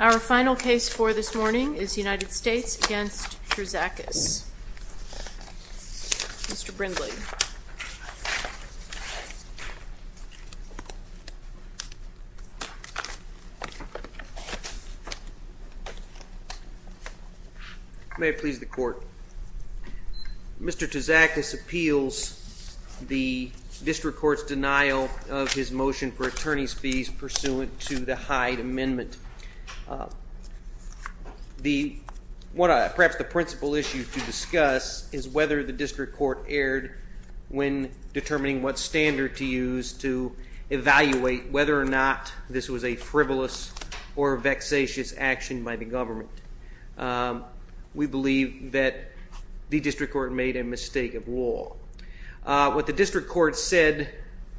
Our final case for this morning is United States v. Terzakis. Mr. Brindley. May it please the Court. Mr. Terzakis appeals the District Court's denial of the motion for attorney's fees pursuant to the Hyde Amendment. Perhaps the principal issue to discuss is whether the District Court erred when determining what standard to use to evaluate whether or not this was a frivolous or vexatious action by the government. We believe that the District Court made a mistake of law. What the District Court said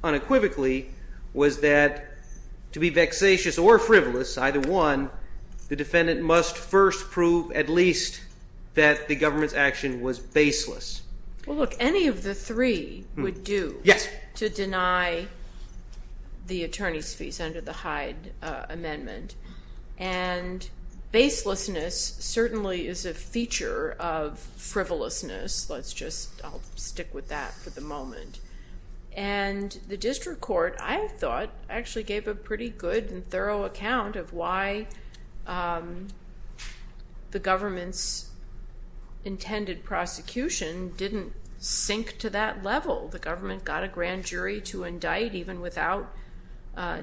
unequivocally was that to be vexatious or frivolous, either one, the defendant must first prove at least that the government's action was baseless. Well, look, any of the three would do to deny the attorney's fees under the Hyde Amendment. And baselessness certainly is a feature of frivolousness. I'll stick with that for the moment. And the District Court, I thought, actually gave a pretty good and thorough account of why the government's intended prosecution didn't sink to that level. The government got a grand jury to indict even without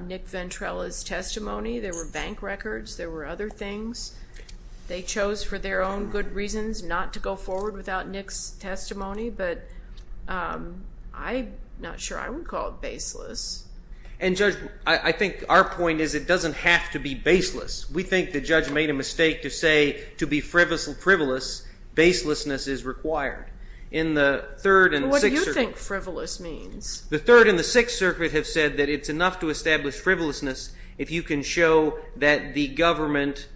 Nick Ventrella's testimony. There were bank records. There were other things. They chose for their own good reasons not to go forward without Nick's testimony. But I'm not sure I would call it baseless. And, Judge, I think our point is it doesn't have to be baseless. We think the judge made a mistake to say to be frivolous, baselessness is required. In the Third and the Sixth Circuit. What do you think frivolous means? The Third and the Sixth Circuit have said that it's enough to establish frivolousness if you can show that the government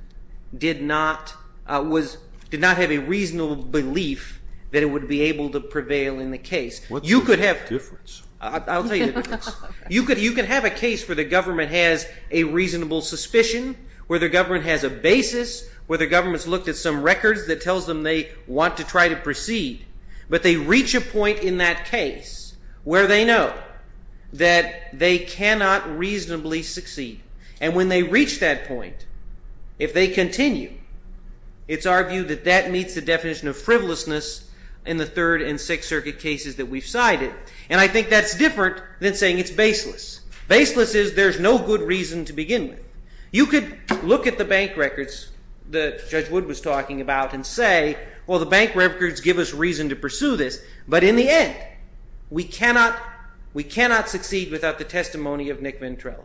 did not, was, did not have a reasonable belief that it would be able to prevail in the case. What's the difference? I'll tell you the difference. You can have a case where the government has a reasonable suspicion, where the government has a basis, where the government's looked at some records that tells them they want to try to proceed. But they reach a point in that case where they know that they cannot reasonably succeed. And when they reach that point, if they continue, it's argued that that meets the definition of frivolousness in the Third and Sixth Circuit cases that we've cited. And I think that's different than saying it's baseless. Baseless is there's no good reason to begin with. You could look at the bank records that Judge Wood was talking about and say, well, the bank records give us reason to pursue this. But in the end, we cannot, we cannot succeed without the testimony of Nick Mintrell.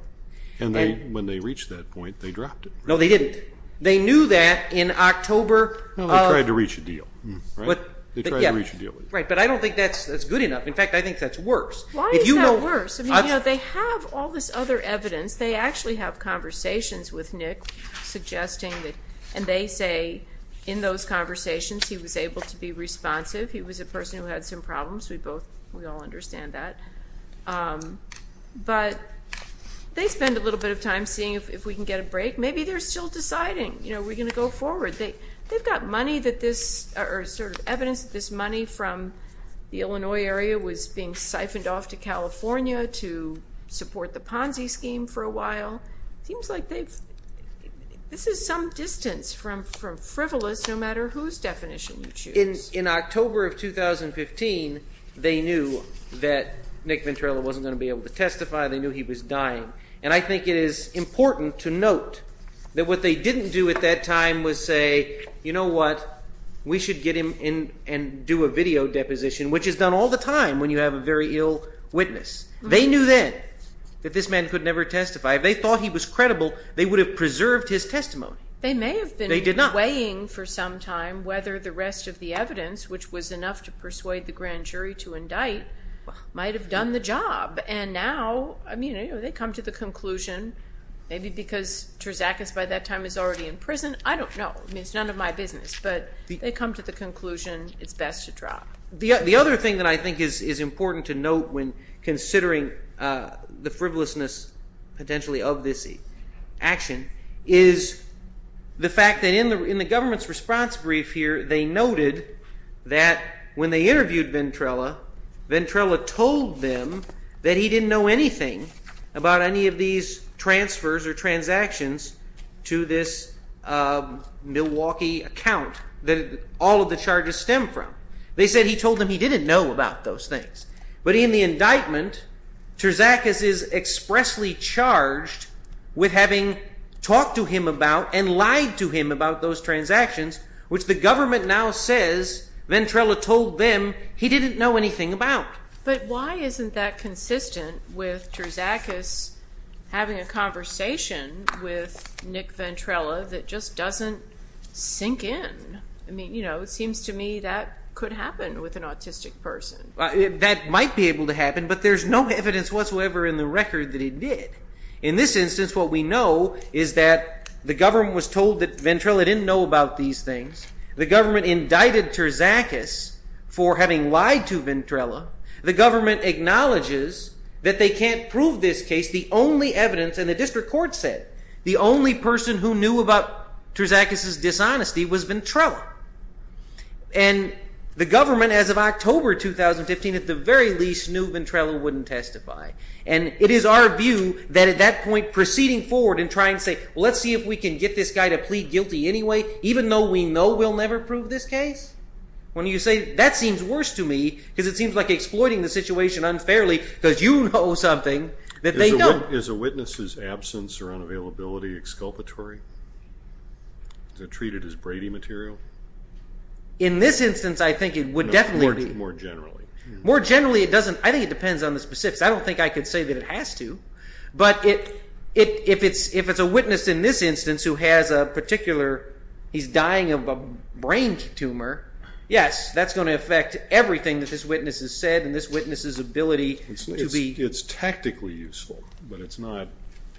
And they, when they reached that point, they dropped it. No, they didn't. They knew that in October. They tried to reach a deal, right? They tried to reach a deal with him. Right, but I don't think that's good enough. In fact, I think that's worse. Why is that worse? I mean, you know, they have all this other evidence. They actually have conversations with Nick suggesting that, and they say in those conversations he was able to be responsive. He was a person who had some problems. We both, we all understand that. But they spend a little bit of time seeing if we can get a break. Maybe they're still deciding, you know, we're going to go forward. They've got money that this, or sort of evidence that this money from the Illinois area was being siphoned off to California to support the Ponzi scheme for a while. Seems like they've, this is some distance from frivolous no matter whose definition you choose. In October of 2015, they knew that Nick Ventrella wasn't going to be able to testify. They knew he was dying. And I think it is important to note that what they didn't do at that time was say, you know what, we should get him in and do a video deposition, which is done all the time when you have a very ill witness. They knew then that this man could never testify. If they thought he was credible, they would have preserved his testimony. They may have been weighing for some time whether the rest of the evidence, which was enough to persuade the grand jury to indict, might have done the job. And now, I mean, you know, they come to the conclusion, maybe because Terzakis by that time is already in prison. I don't know. I mean, it's none of my business. But they come to the conclusion it's best to drop. The other thing that I think is important to note when considering the frivolousness potentially of this action is the fact that in the government's response brief here, they noted that when they interviewed Ventrella, Ventrella told them that he didn't know anything about any of these transfers or transactions to this Milwaukee account that all of the charges stem from. They said he told them he didn't know about those things. But in the indictment, Terzakis is expressly charged with having talked to him about and lied to him about those transactions, which the government now says Ventrella told them he didn't know anything about. But why isn't that consistent with Terzakis having a conversation with Nick Ventrella that just doesn't sink in? I mean, you know, it seems to me that could happen with an autistic person. That might be able to happen, but there's no evidence whatsoever in the record that it did. In this instance, what we know is that the government was told that Ventrella didn't know about these things. The government indicted Terzakis for having lied to Ventrella. The government acknowledges that they can't prove this case. The only evidence, and the only evidence about Terzakis' dishonesty was Ventrella. And the government, as of October 2015, at the very least, knew Ventrella wouldn't testify. And it is our view that at that point, proceeding forward and trying to say, well, let's see if we can get this guy to plead guilty anyway, even though we know we'll never prove this case. When you say, that seems worse to me, because it seems like exploiting the situation unfairly because you know something that they don't. Is a witness's absence or unavailability exculpatory? Is it treated as Brady material? In this instance, I think it would definitely be. More generally. More generally, I think it depends on the specifics. I don't think I could say that it has to, but if it's a witness in this instance who has a particular, he's dying of a brain tumor, yes, that's going to affect everything that this witness has said and this witness's ability to be. I think it's tactically useful, but it's not.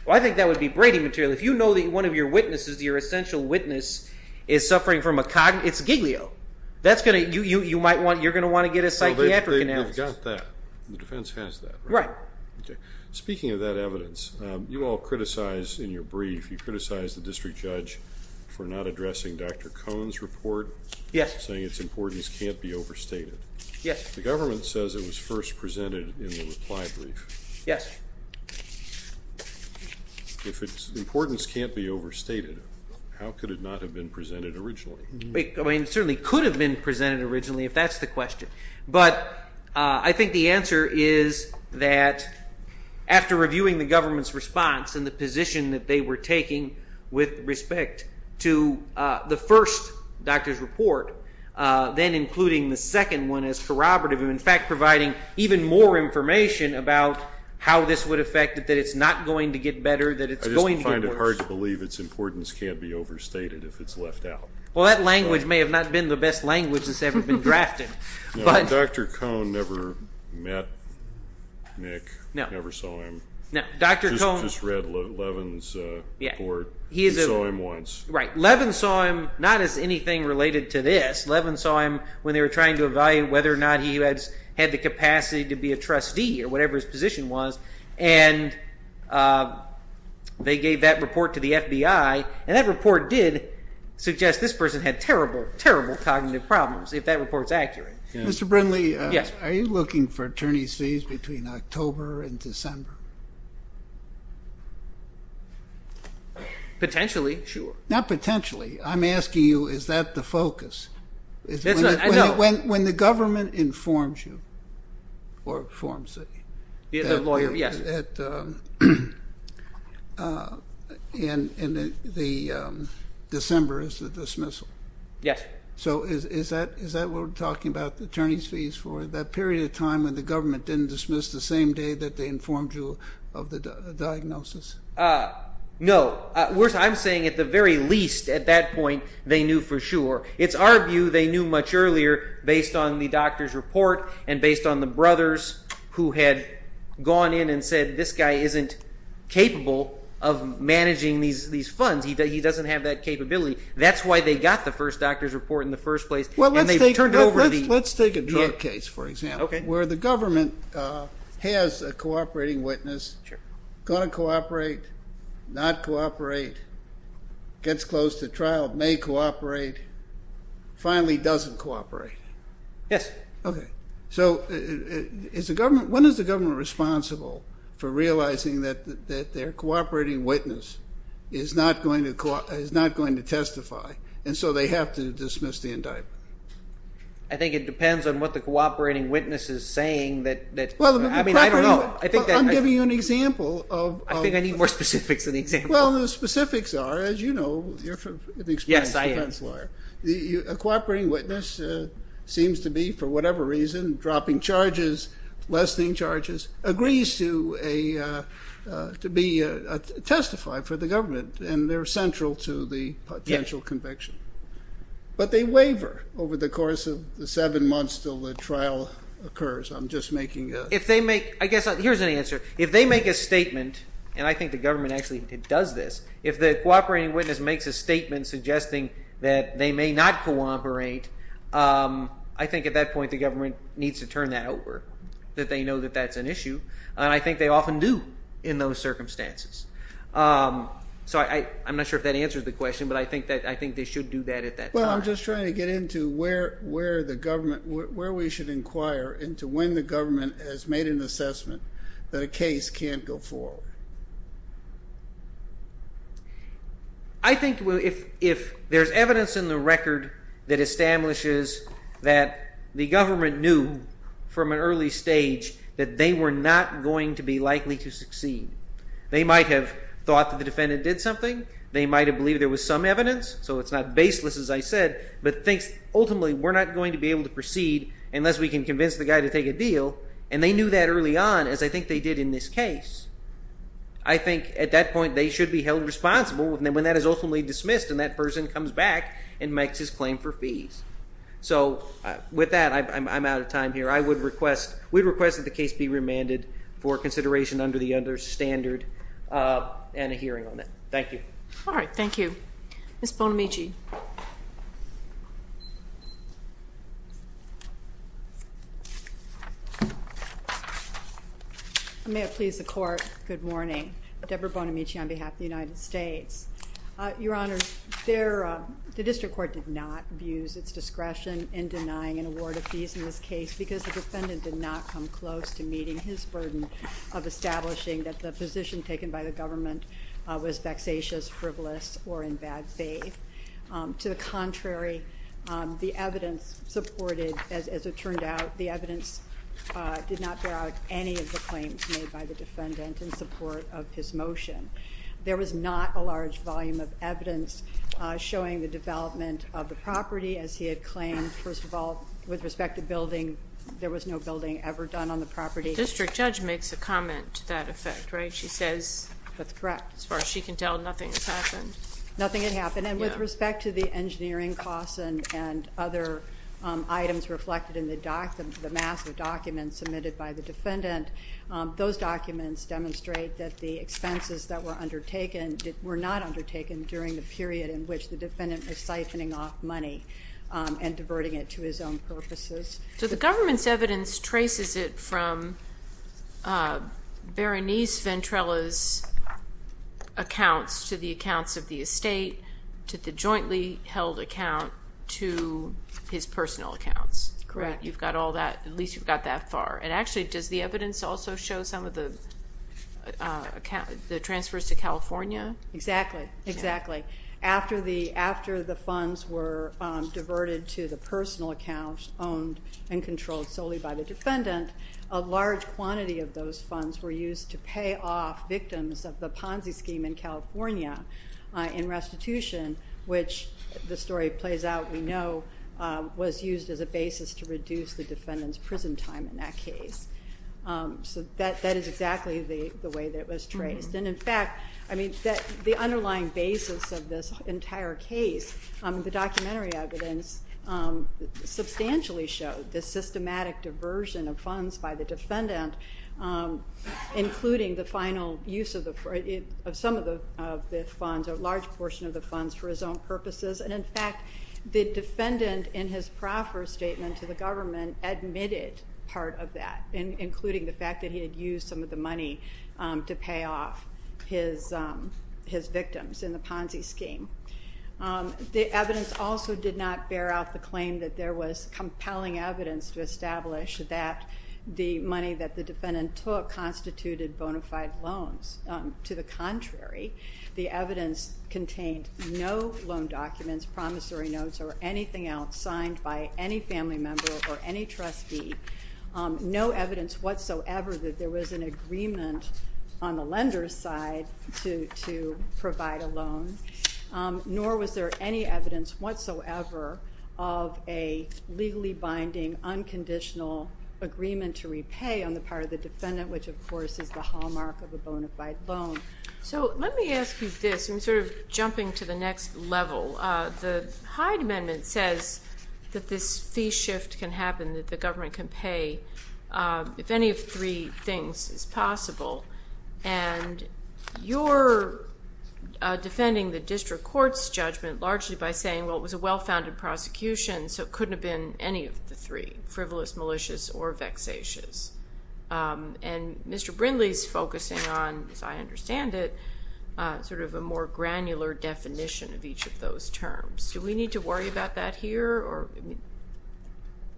Well, I think that would be Brady material. If you know that one of your witnesses, your essential witness, is suffering from a cognitive, it's a giglio. That's going to, you might want, you're going to want to get a psychiatric analysis. Well, they've got that. The defense has that. Right. Okay. Speaking of that evidence, you all criticized in your brief, you criticized the district judge for not addressing Dr. Cohn's report. Yes. Saying its importance can't be overstated. Yes. The government says it was first presented in the reply brief. Yes. If its importance can't be overstated, how could it not have been presented originally? It certainly could have been presented originally, if that's the question, but I think the answer is that after reviewing the government's response and the position that they were taking with respect to the first doctor's report, then including the second one as corroborative, in fact, providing even more information about how this would affect it, that it's not going to get better, that it's going to get worse. I just find it hard to believe its importance can't be overstated if it's left out. Well, that language may have not been the best language that's ever been drafted. No, Dr. Cohn never met Nick. No. Never saw him. No, Dr. Cohn... Just read Levin's report. He saw him once. Right. Levin saw him not as anything related to this. Levin saw him when they were trying to evaluate whether or not he had the capacity to be a trustee or whatever his position was, and they gave that report to the FBI, and that report did suggest this person had terrible, terrible cognitive problems, if that report's accurate. Mr. Brinley, are you looking for attorneys fees between October and December? Potentially, sure. Not potentially. I'm asking you, is that the focus? I know. When the government informs you, or informs the... The lawyer, yes. And the December is the dismissal. Yes. So is that what we're talking about, the attorneys fees for that period of time when the government didn't dismiss the same day that they informed you of the diagnosis? No. I'm saying at the very least, at that point, they knew for sure. It's our view they knew much earlier based on the doctor's report and based on the brothers who had gone in and said, this guy isn't capable of managing these funds. He doesn't have that capability. That's why they got the first doctor's report in the first place, and they turned it over to the... The government has a cooperating witness, going to cooperate, not cooperate, gets close to trial, may cooperate, finally doesn't cooperate. Yes. Okay. So when is the government responsible for realizing that their cooperating witness is not going to testify, and so they have to dismiss the indictment? I think it depends on what the cooperating witness is saying that... Well, I'm giving you an example of... I think I need more specifics in the example. Well, the specifics are, as you know, you're an experienced defense lawyer. Yes, I am. A cooperating witness seems to be, for whatever reason, dropping charges, lessening charges, agrees to be testified for the government, and they're central to the potential conviction. Yes. But they waiver over the course of the seven months until the trial occurs. I'm just making a... If they make... I guess here's an answer. If they make a statement, and I think the government actually does this, if the cooperating witness makes a statement suggesting that they may not cooperate, I think at that point the government needs to turn that over, that they know that that's an issue, and I think they often do in those circumstances. So I'm not sure if that answers the question, but I think they should do that at that point. Well, I'm just trying to get into where the government... where we should inquire into when the government has made an assessment that a case can't go forward. I think if there's evidence in the record that establishes that the government knew from an early stage that they were not going to be likely to succeed, they might have thought that the defendant did something, they might have believed there was some evidence, so it's not baseless as I said, but thinks ultimately we're not going to be able to proceed unless we can convince the guy to take a deal, and they knew that early on as I think they did in this case. I think at that point they should be held responsible when that is ultimately dismissed and that person comes back and makes his claim for fees. So with that, I'm out of time here. We'd request that the case be remanded for consideration under the understandard and a hearing on it. Thank you. All right, thank you. Ms. Bonamici. I may have pleased the court. Good morning. Deborah Bonamici on behalf of the United States. Your Honor, the district court did not abuse its discretion in denying an award of fees in this case because the defendant did not come close to meeting his burden of establishing that the position taken by the government was vexatious, frivolous, or in bad faith. To the contrary, the evidence supported, as it turned out, the evidence did not bear out any of the claims made by the defendant in support of his motion. There was not a large volume of evidence showing the development of the property as he had claimed. First of all, with respect to building, there was no building ever done on the property. The district judge makes a comment to that effect, right? She says, as far as she can tell, nothing has happened. Nothing had happened, and with respect to the engineering costs and other items reflected in the massive documents submitted by the defendant, those documents demonstrate that the expenses that were undertaken were not undertaken during the period in which the defendant was siphoning off money and diverting it to his own purposes. So the government's evidence traces it from Berenice Ventrella's accounts to the accounts of the estate, to the jointly held account, to his personal accounts. Correct. You've got all that, at least you've got that far. And actually, does the evidence also show some of the transfers to California? Exactly. Exactly. After the funds were diverted to the personal accounts owned and controlled solely by the defendant, a large quantity of those funds were used to pay off victims of the Ponzi scheme in California was used as a basis to reduce the defendant's prison time in that case. So that is exactly the way that it was traced. And in fact, the underlying basis of this entire case, the documentary evidence, substantially showed the systematic diversion of funds by the defendant, including the final use of some of the funds, a large portion of the funds, for his own purposes. And in fact, the defendant in his proffer statement to the government admitted part of that, including the fact that he had used some of the money to pay off his victims in the Ponzi scheme. The evidence also did not bear out the claim that there was compelling evidence to establish that the money that the defendant took constituted bona fide loans. To the contrary, the evidence contained no loan documents, promissory notes, or anything else signed by any family member or any trustee, no evidence whatsoever that there was an agreement on the lender's side to provide a loan, nor was there any evidence whatsoever of a legally binding, unconditional agreement to repay on the part of the defendant, which, of course, is the hallmark of a bona fide loan. So let me ask you this. I'm sort of jumping to the next level. The Hyde Amendment says that this fee shift can happen, that the government can pay, if any of three things is possible. And you're defending the district court's judgment largely by saying, well, it was a well-founded prosecution, so it couldn't have been any of the three, frivolous, malicious, or vexatious. And Mr. Brindley's focusing on, as I understand it, sort of a more granular definition of each of those terms. Do we need to worry about that here?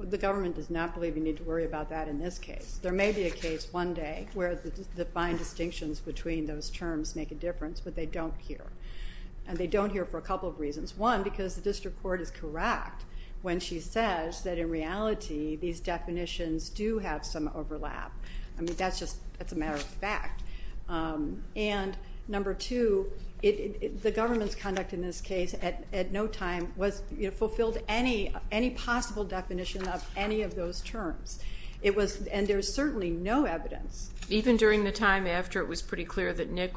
The government does not believe you need to worry about that in this case. There may be a case one day where the fine distinctions between those terms make a difference, but they don't here. And they don't here for a couple of reasons. One, because the district court is correct when she says that, in reality, these definitions do have some overlap. I mean, that's just a matter of fact. And number two, the government's conduct in this case at no time fulfilled any possible definition of any of those terms. And there's certainly no evidence. Even during the time after it was pretty clear that Nick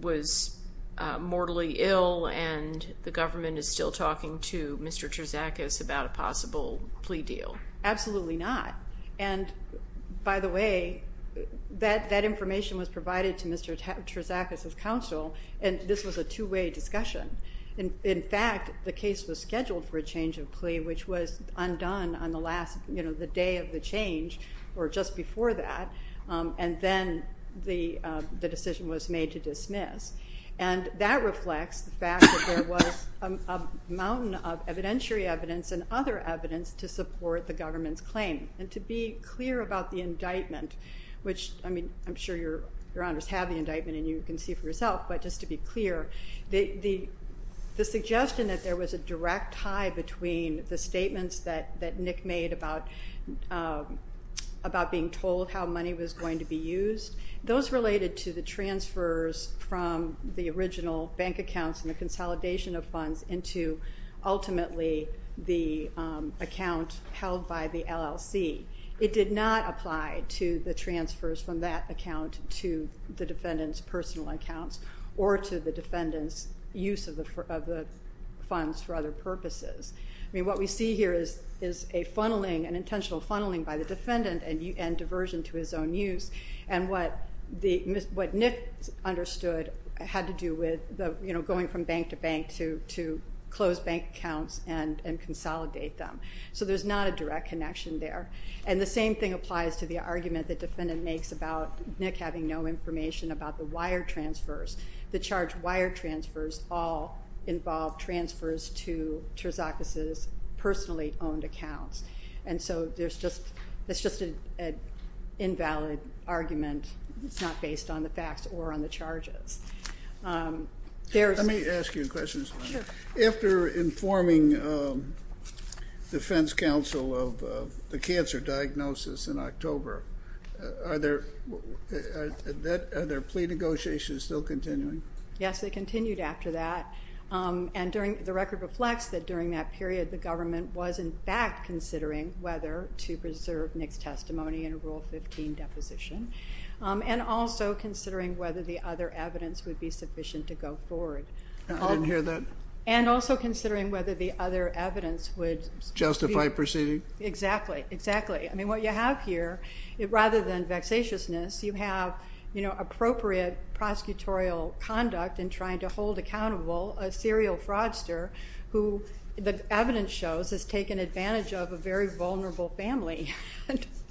was mortally ill and the government is still talking to Mr. Terzakis about a possible plea deal? Absolutely not. And, by the way, that information was provided to Mr. Terzakis's counsel, and this was a two-way discussion. In fact, the case was scheduled for a change of plea, which was undone on the day of the change or just before that, and then the decision was made to dismiss. And that reflects the fact that there was a mountain of evidentiary evidence and other evidence to support the government's claim. And to be clear about the indictment, which, I mean, I'm sure your honors have the indictment and you can see for yourself, but just to be clear, the suggestion that there was a direct tie between the statements that Nick made about being told how money was going to be used, those related to the transfers from the original bank accounts and the consolidation of funds into, ultimately, the account held by the LLC. It did not apply to the transfers from that account to the defendant's personal accounts or to the defendant's use of the funds for other purposes. I mean, what we see here is a funneling, an intentional funneling by the defendant and diversion to his own use. And what Nick understood had to do with going from bank to bank to close bank accounts and consolidate them. So there's not a direct connection there. And the same thing applies to the argument the defendant makes about Nick having no information about the wire transfers. The charge wire transfers all involve transfers to Terzakis' personally owned accounts. And so it's just an invalid argument. It's not based on the facts or on the charges. Let me ask you a question. After informing defense counsel of the cancer diagnosis in October, are their plea negotiations still continuing? Yes, they continued after that. And the record reflects that during that period the government was, in fact, considering whether to preserve Nick's testimony in a Rule 15 deposition and also considering whether the other evidence would be sufficient to go forward. I didn't hear that. And also considering whether the other evidence would be. Justify proceeding? Exactly, exactly. I mean, what you have here, rather than vexatiousness, you have appropriate prosecutorial conduct in trying to hold accountable a serial fraudster who the evidence shows has taken advantage of a very vulnerable family.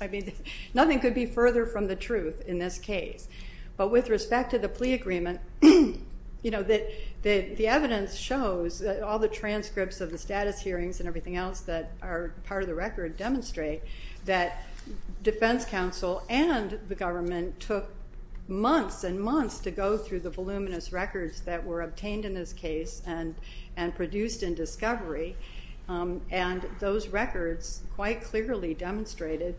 I mean, nothing could be further from the truth in this case. But with respect to the plea agreement, the evidence shows all the transcripts of the status hearings and everything else that are part of the record demonstrate that defense counsel and the government took months and months to go through the voluminous records that were obtained in this case and produced in discovery. And those records quite clearly demonstrated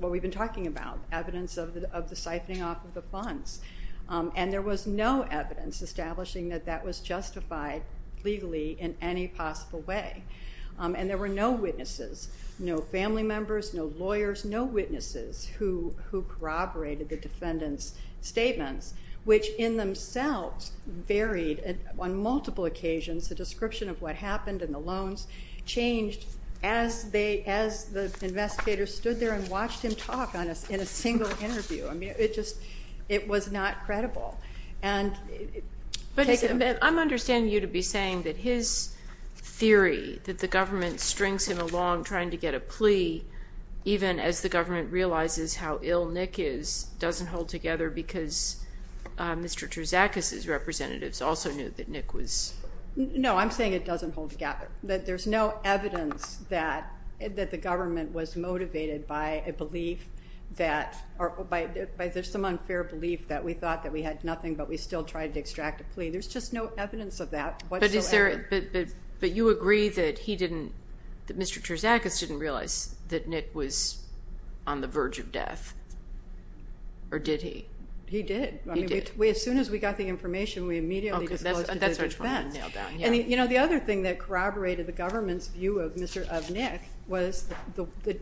what we've been talking about, evidence of the siphoning off of the funds. And there was no evidence establishing that that was justified legally in any possible way. And there were no witnesses, no family members, no lawyers, no witnesses who corroborated the defendant's statements, which in themselves varied on multiple occasions. The description of what happened and the loans changed as the investigator stood there and watched him talk in a single interview. I mean, it just was not credible. But I'm understanding you to be saying that his theory, that the government strings him along trying to get a plea, even as the government realizes how ill Nick is, doesn't hold together because Mr. Terzakis' representatives also knew that Nick was. No, I'm saying it doesn't hold together. There's no evidence that the government was motivated by a belief that, or by some unfair belief that we thought that we had nothing, but we still tried to extract a plea. There's just no evidence of that whatsoever. But you agree that he didn't, that Mr. Terzakis didn't realize that Nick was on the verge of death, or did he? He did. I mean, as soon as we got the information, we immediately disclosed to the defense. And the other thing that corroborated the government's view of Nick was the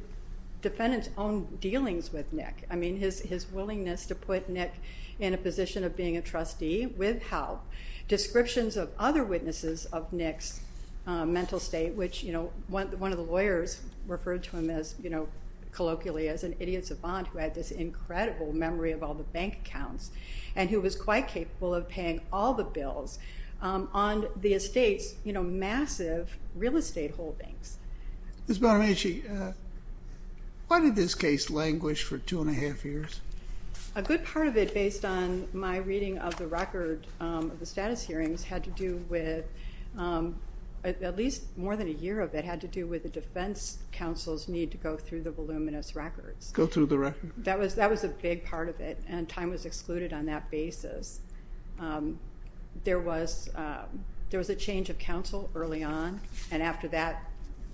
defendant's own dealings with Nick. I mean, his willingness to put Nick in a position of being a trustee with help, descriptions of other witnesses of Nick's mental state, which one of the lawyers referred to him colloquially as an idiot savant who had this incredible memory of all the bank accounts and who was quite capable of paying all the bills on the estate's massive real estate holdings. Ms. Bonamici, why did this case languish for two and a half years? A good part of it, based on my reading of the record of the status hearings, had to do with, at least more than a year of it, had to do with the defense counsel's need to go through the voluminous records. Go through the records. That was a big part of it, and time was excluded on that basis. There was a change of counsel early on, and after that,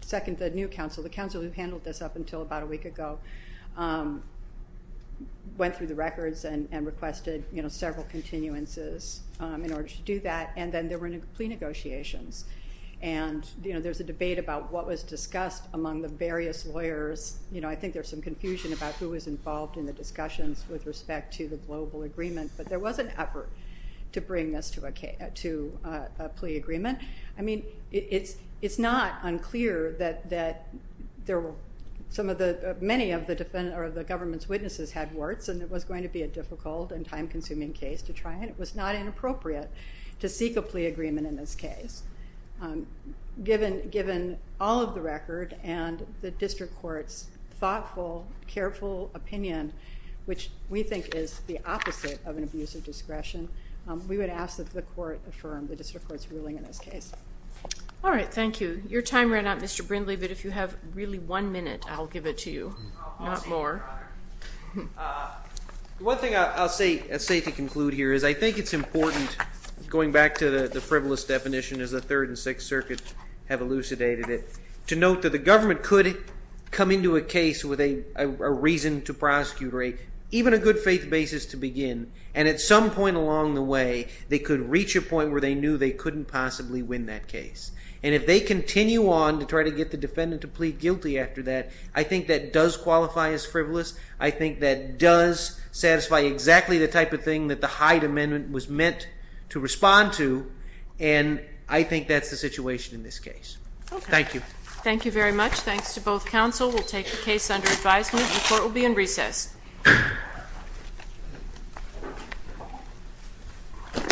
the new counsel, the counsel who handled this up until about a week ago, went through the records and requested several continuances in order to do that, and then there were plea negotiations. And there's a debate about what was discussed among the various lawyers. I think there's some confusion about who was involved in the discussions with respect to the global agreement, but there was an effort to bring this to a plea agreement. I mean, it's not unclear that many of the government's witnesses had warts, and it was going to be a difficult and time-consuming case to try, and it was not inappropriate to seek a plea agreement in this case. Given all of the record and the district court's thoughtful, careful opinion, which we think is the opposite of an abuse of discretion, we would ask that the court affirm the district court's ruling in this case. All right, thank you. Your time ran out, Mr. Brindley, but if you have really one minute, I'll give it to you, not more. One thing I'll say to conclude here is I think it's important, going back to the frivolous definition as the Third and Sixth Circuits have elucidated it, to note that the government could come into a case with a reason to prosecute, or even a good faith basis to begin, and at some point along the way they could reach a point where they knew they couldn't possibly win that case. And if they continue on to try to get the defendant to plead guilty after that, I think that does qualify as frivolous. I think that does satisfy exactly the type of thing that the Hyde Amendment was meant to respond to, and I think that's the situation in this case. Okay. Thank you. Thank you very much. Thanks to both counsel. We'll take the case under advisement. The court will be in recess.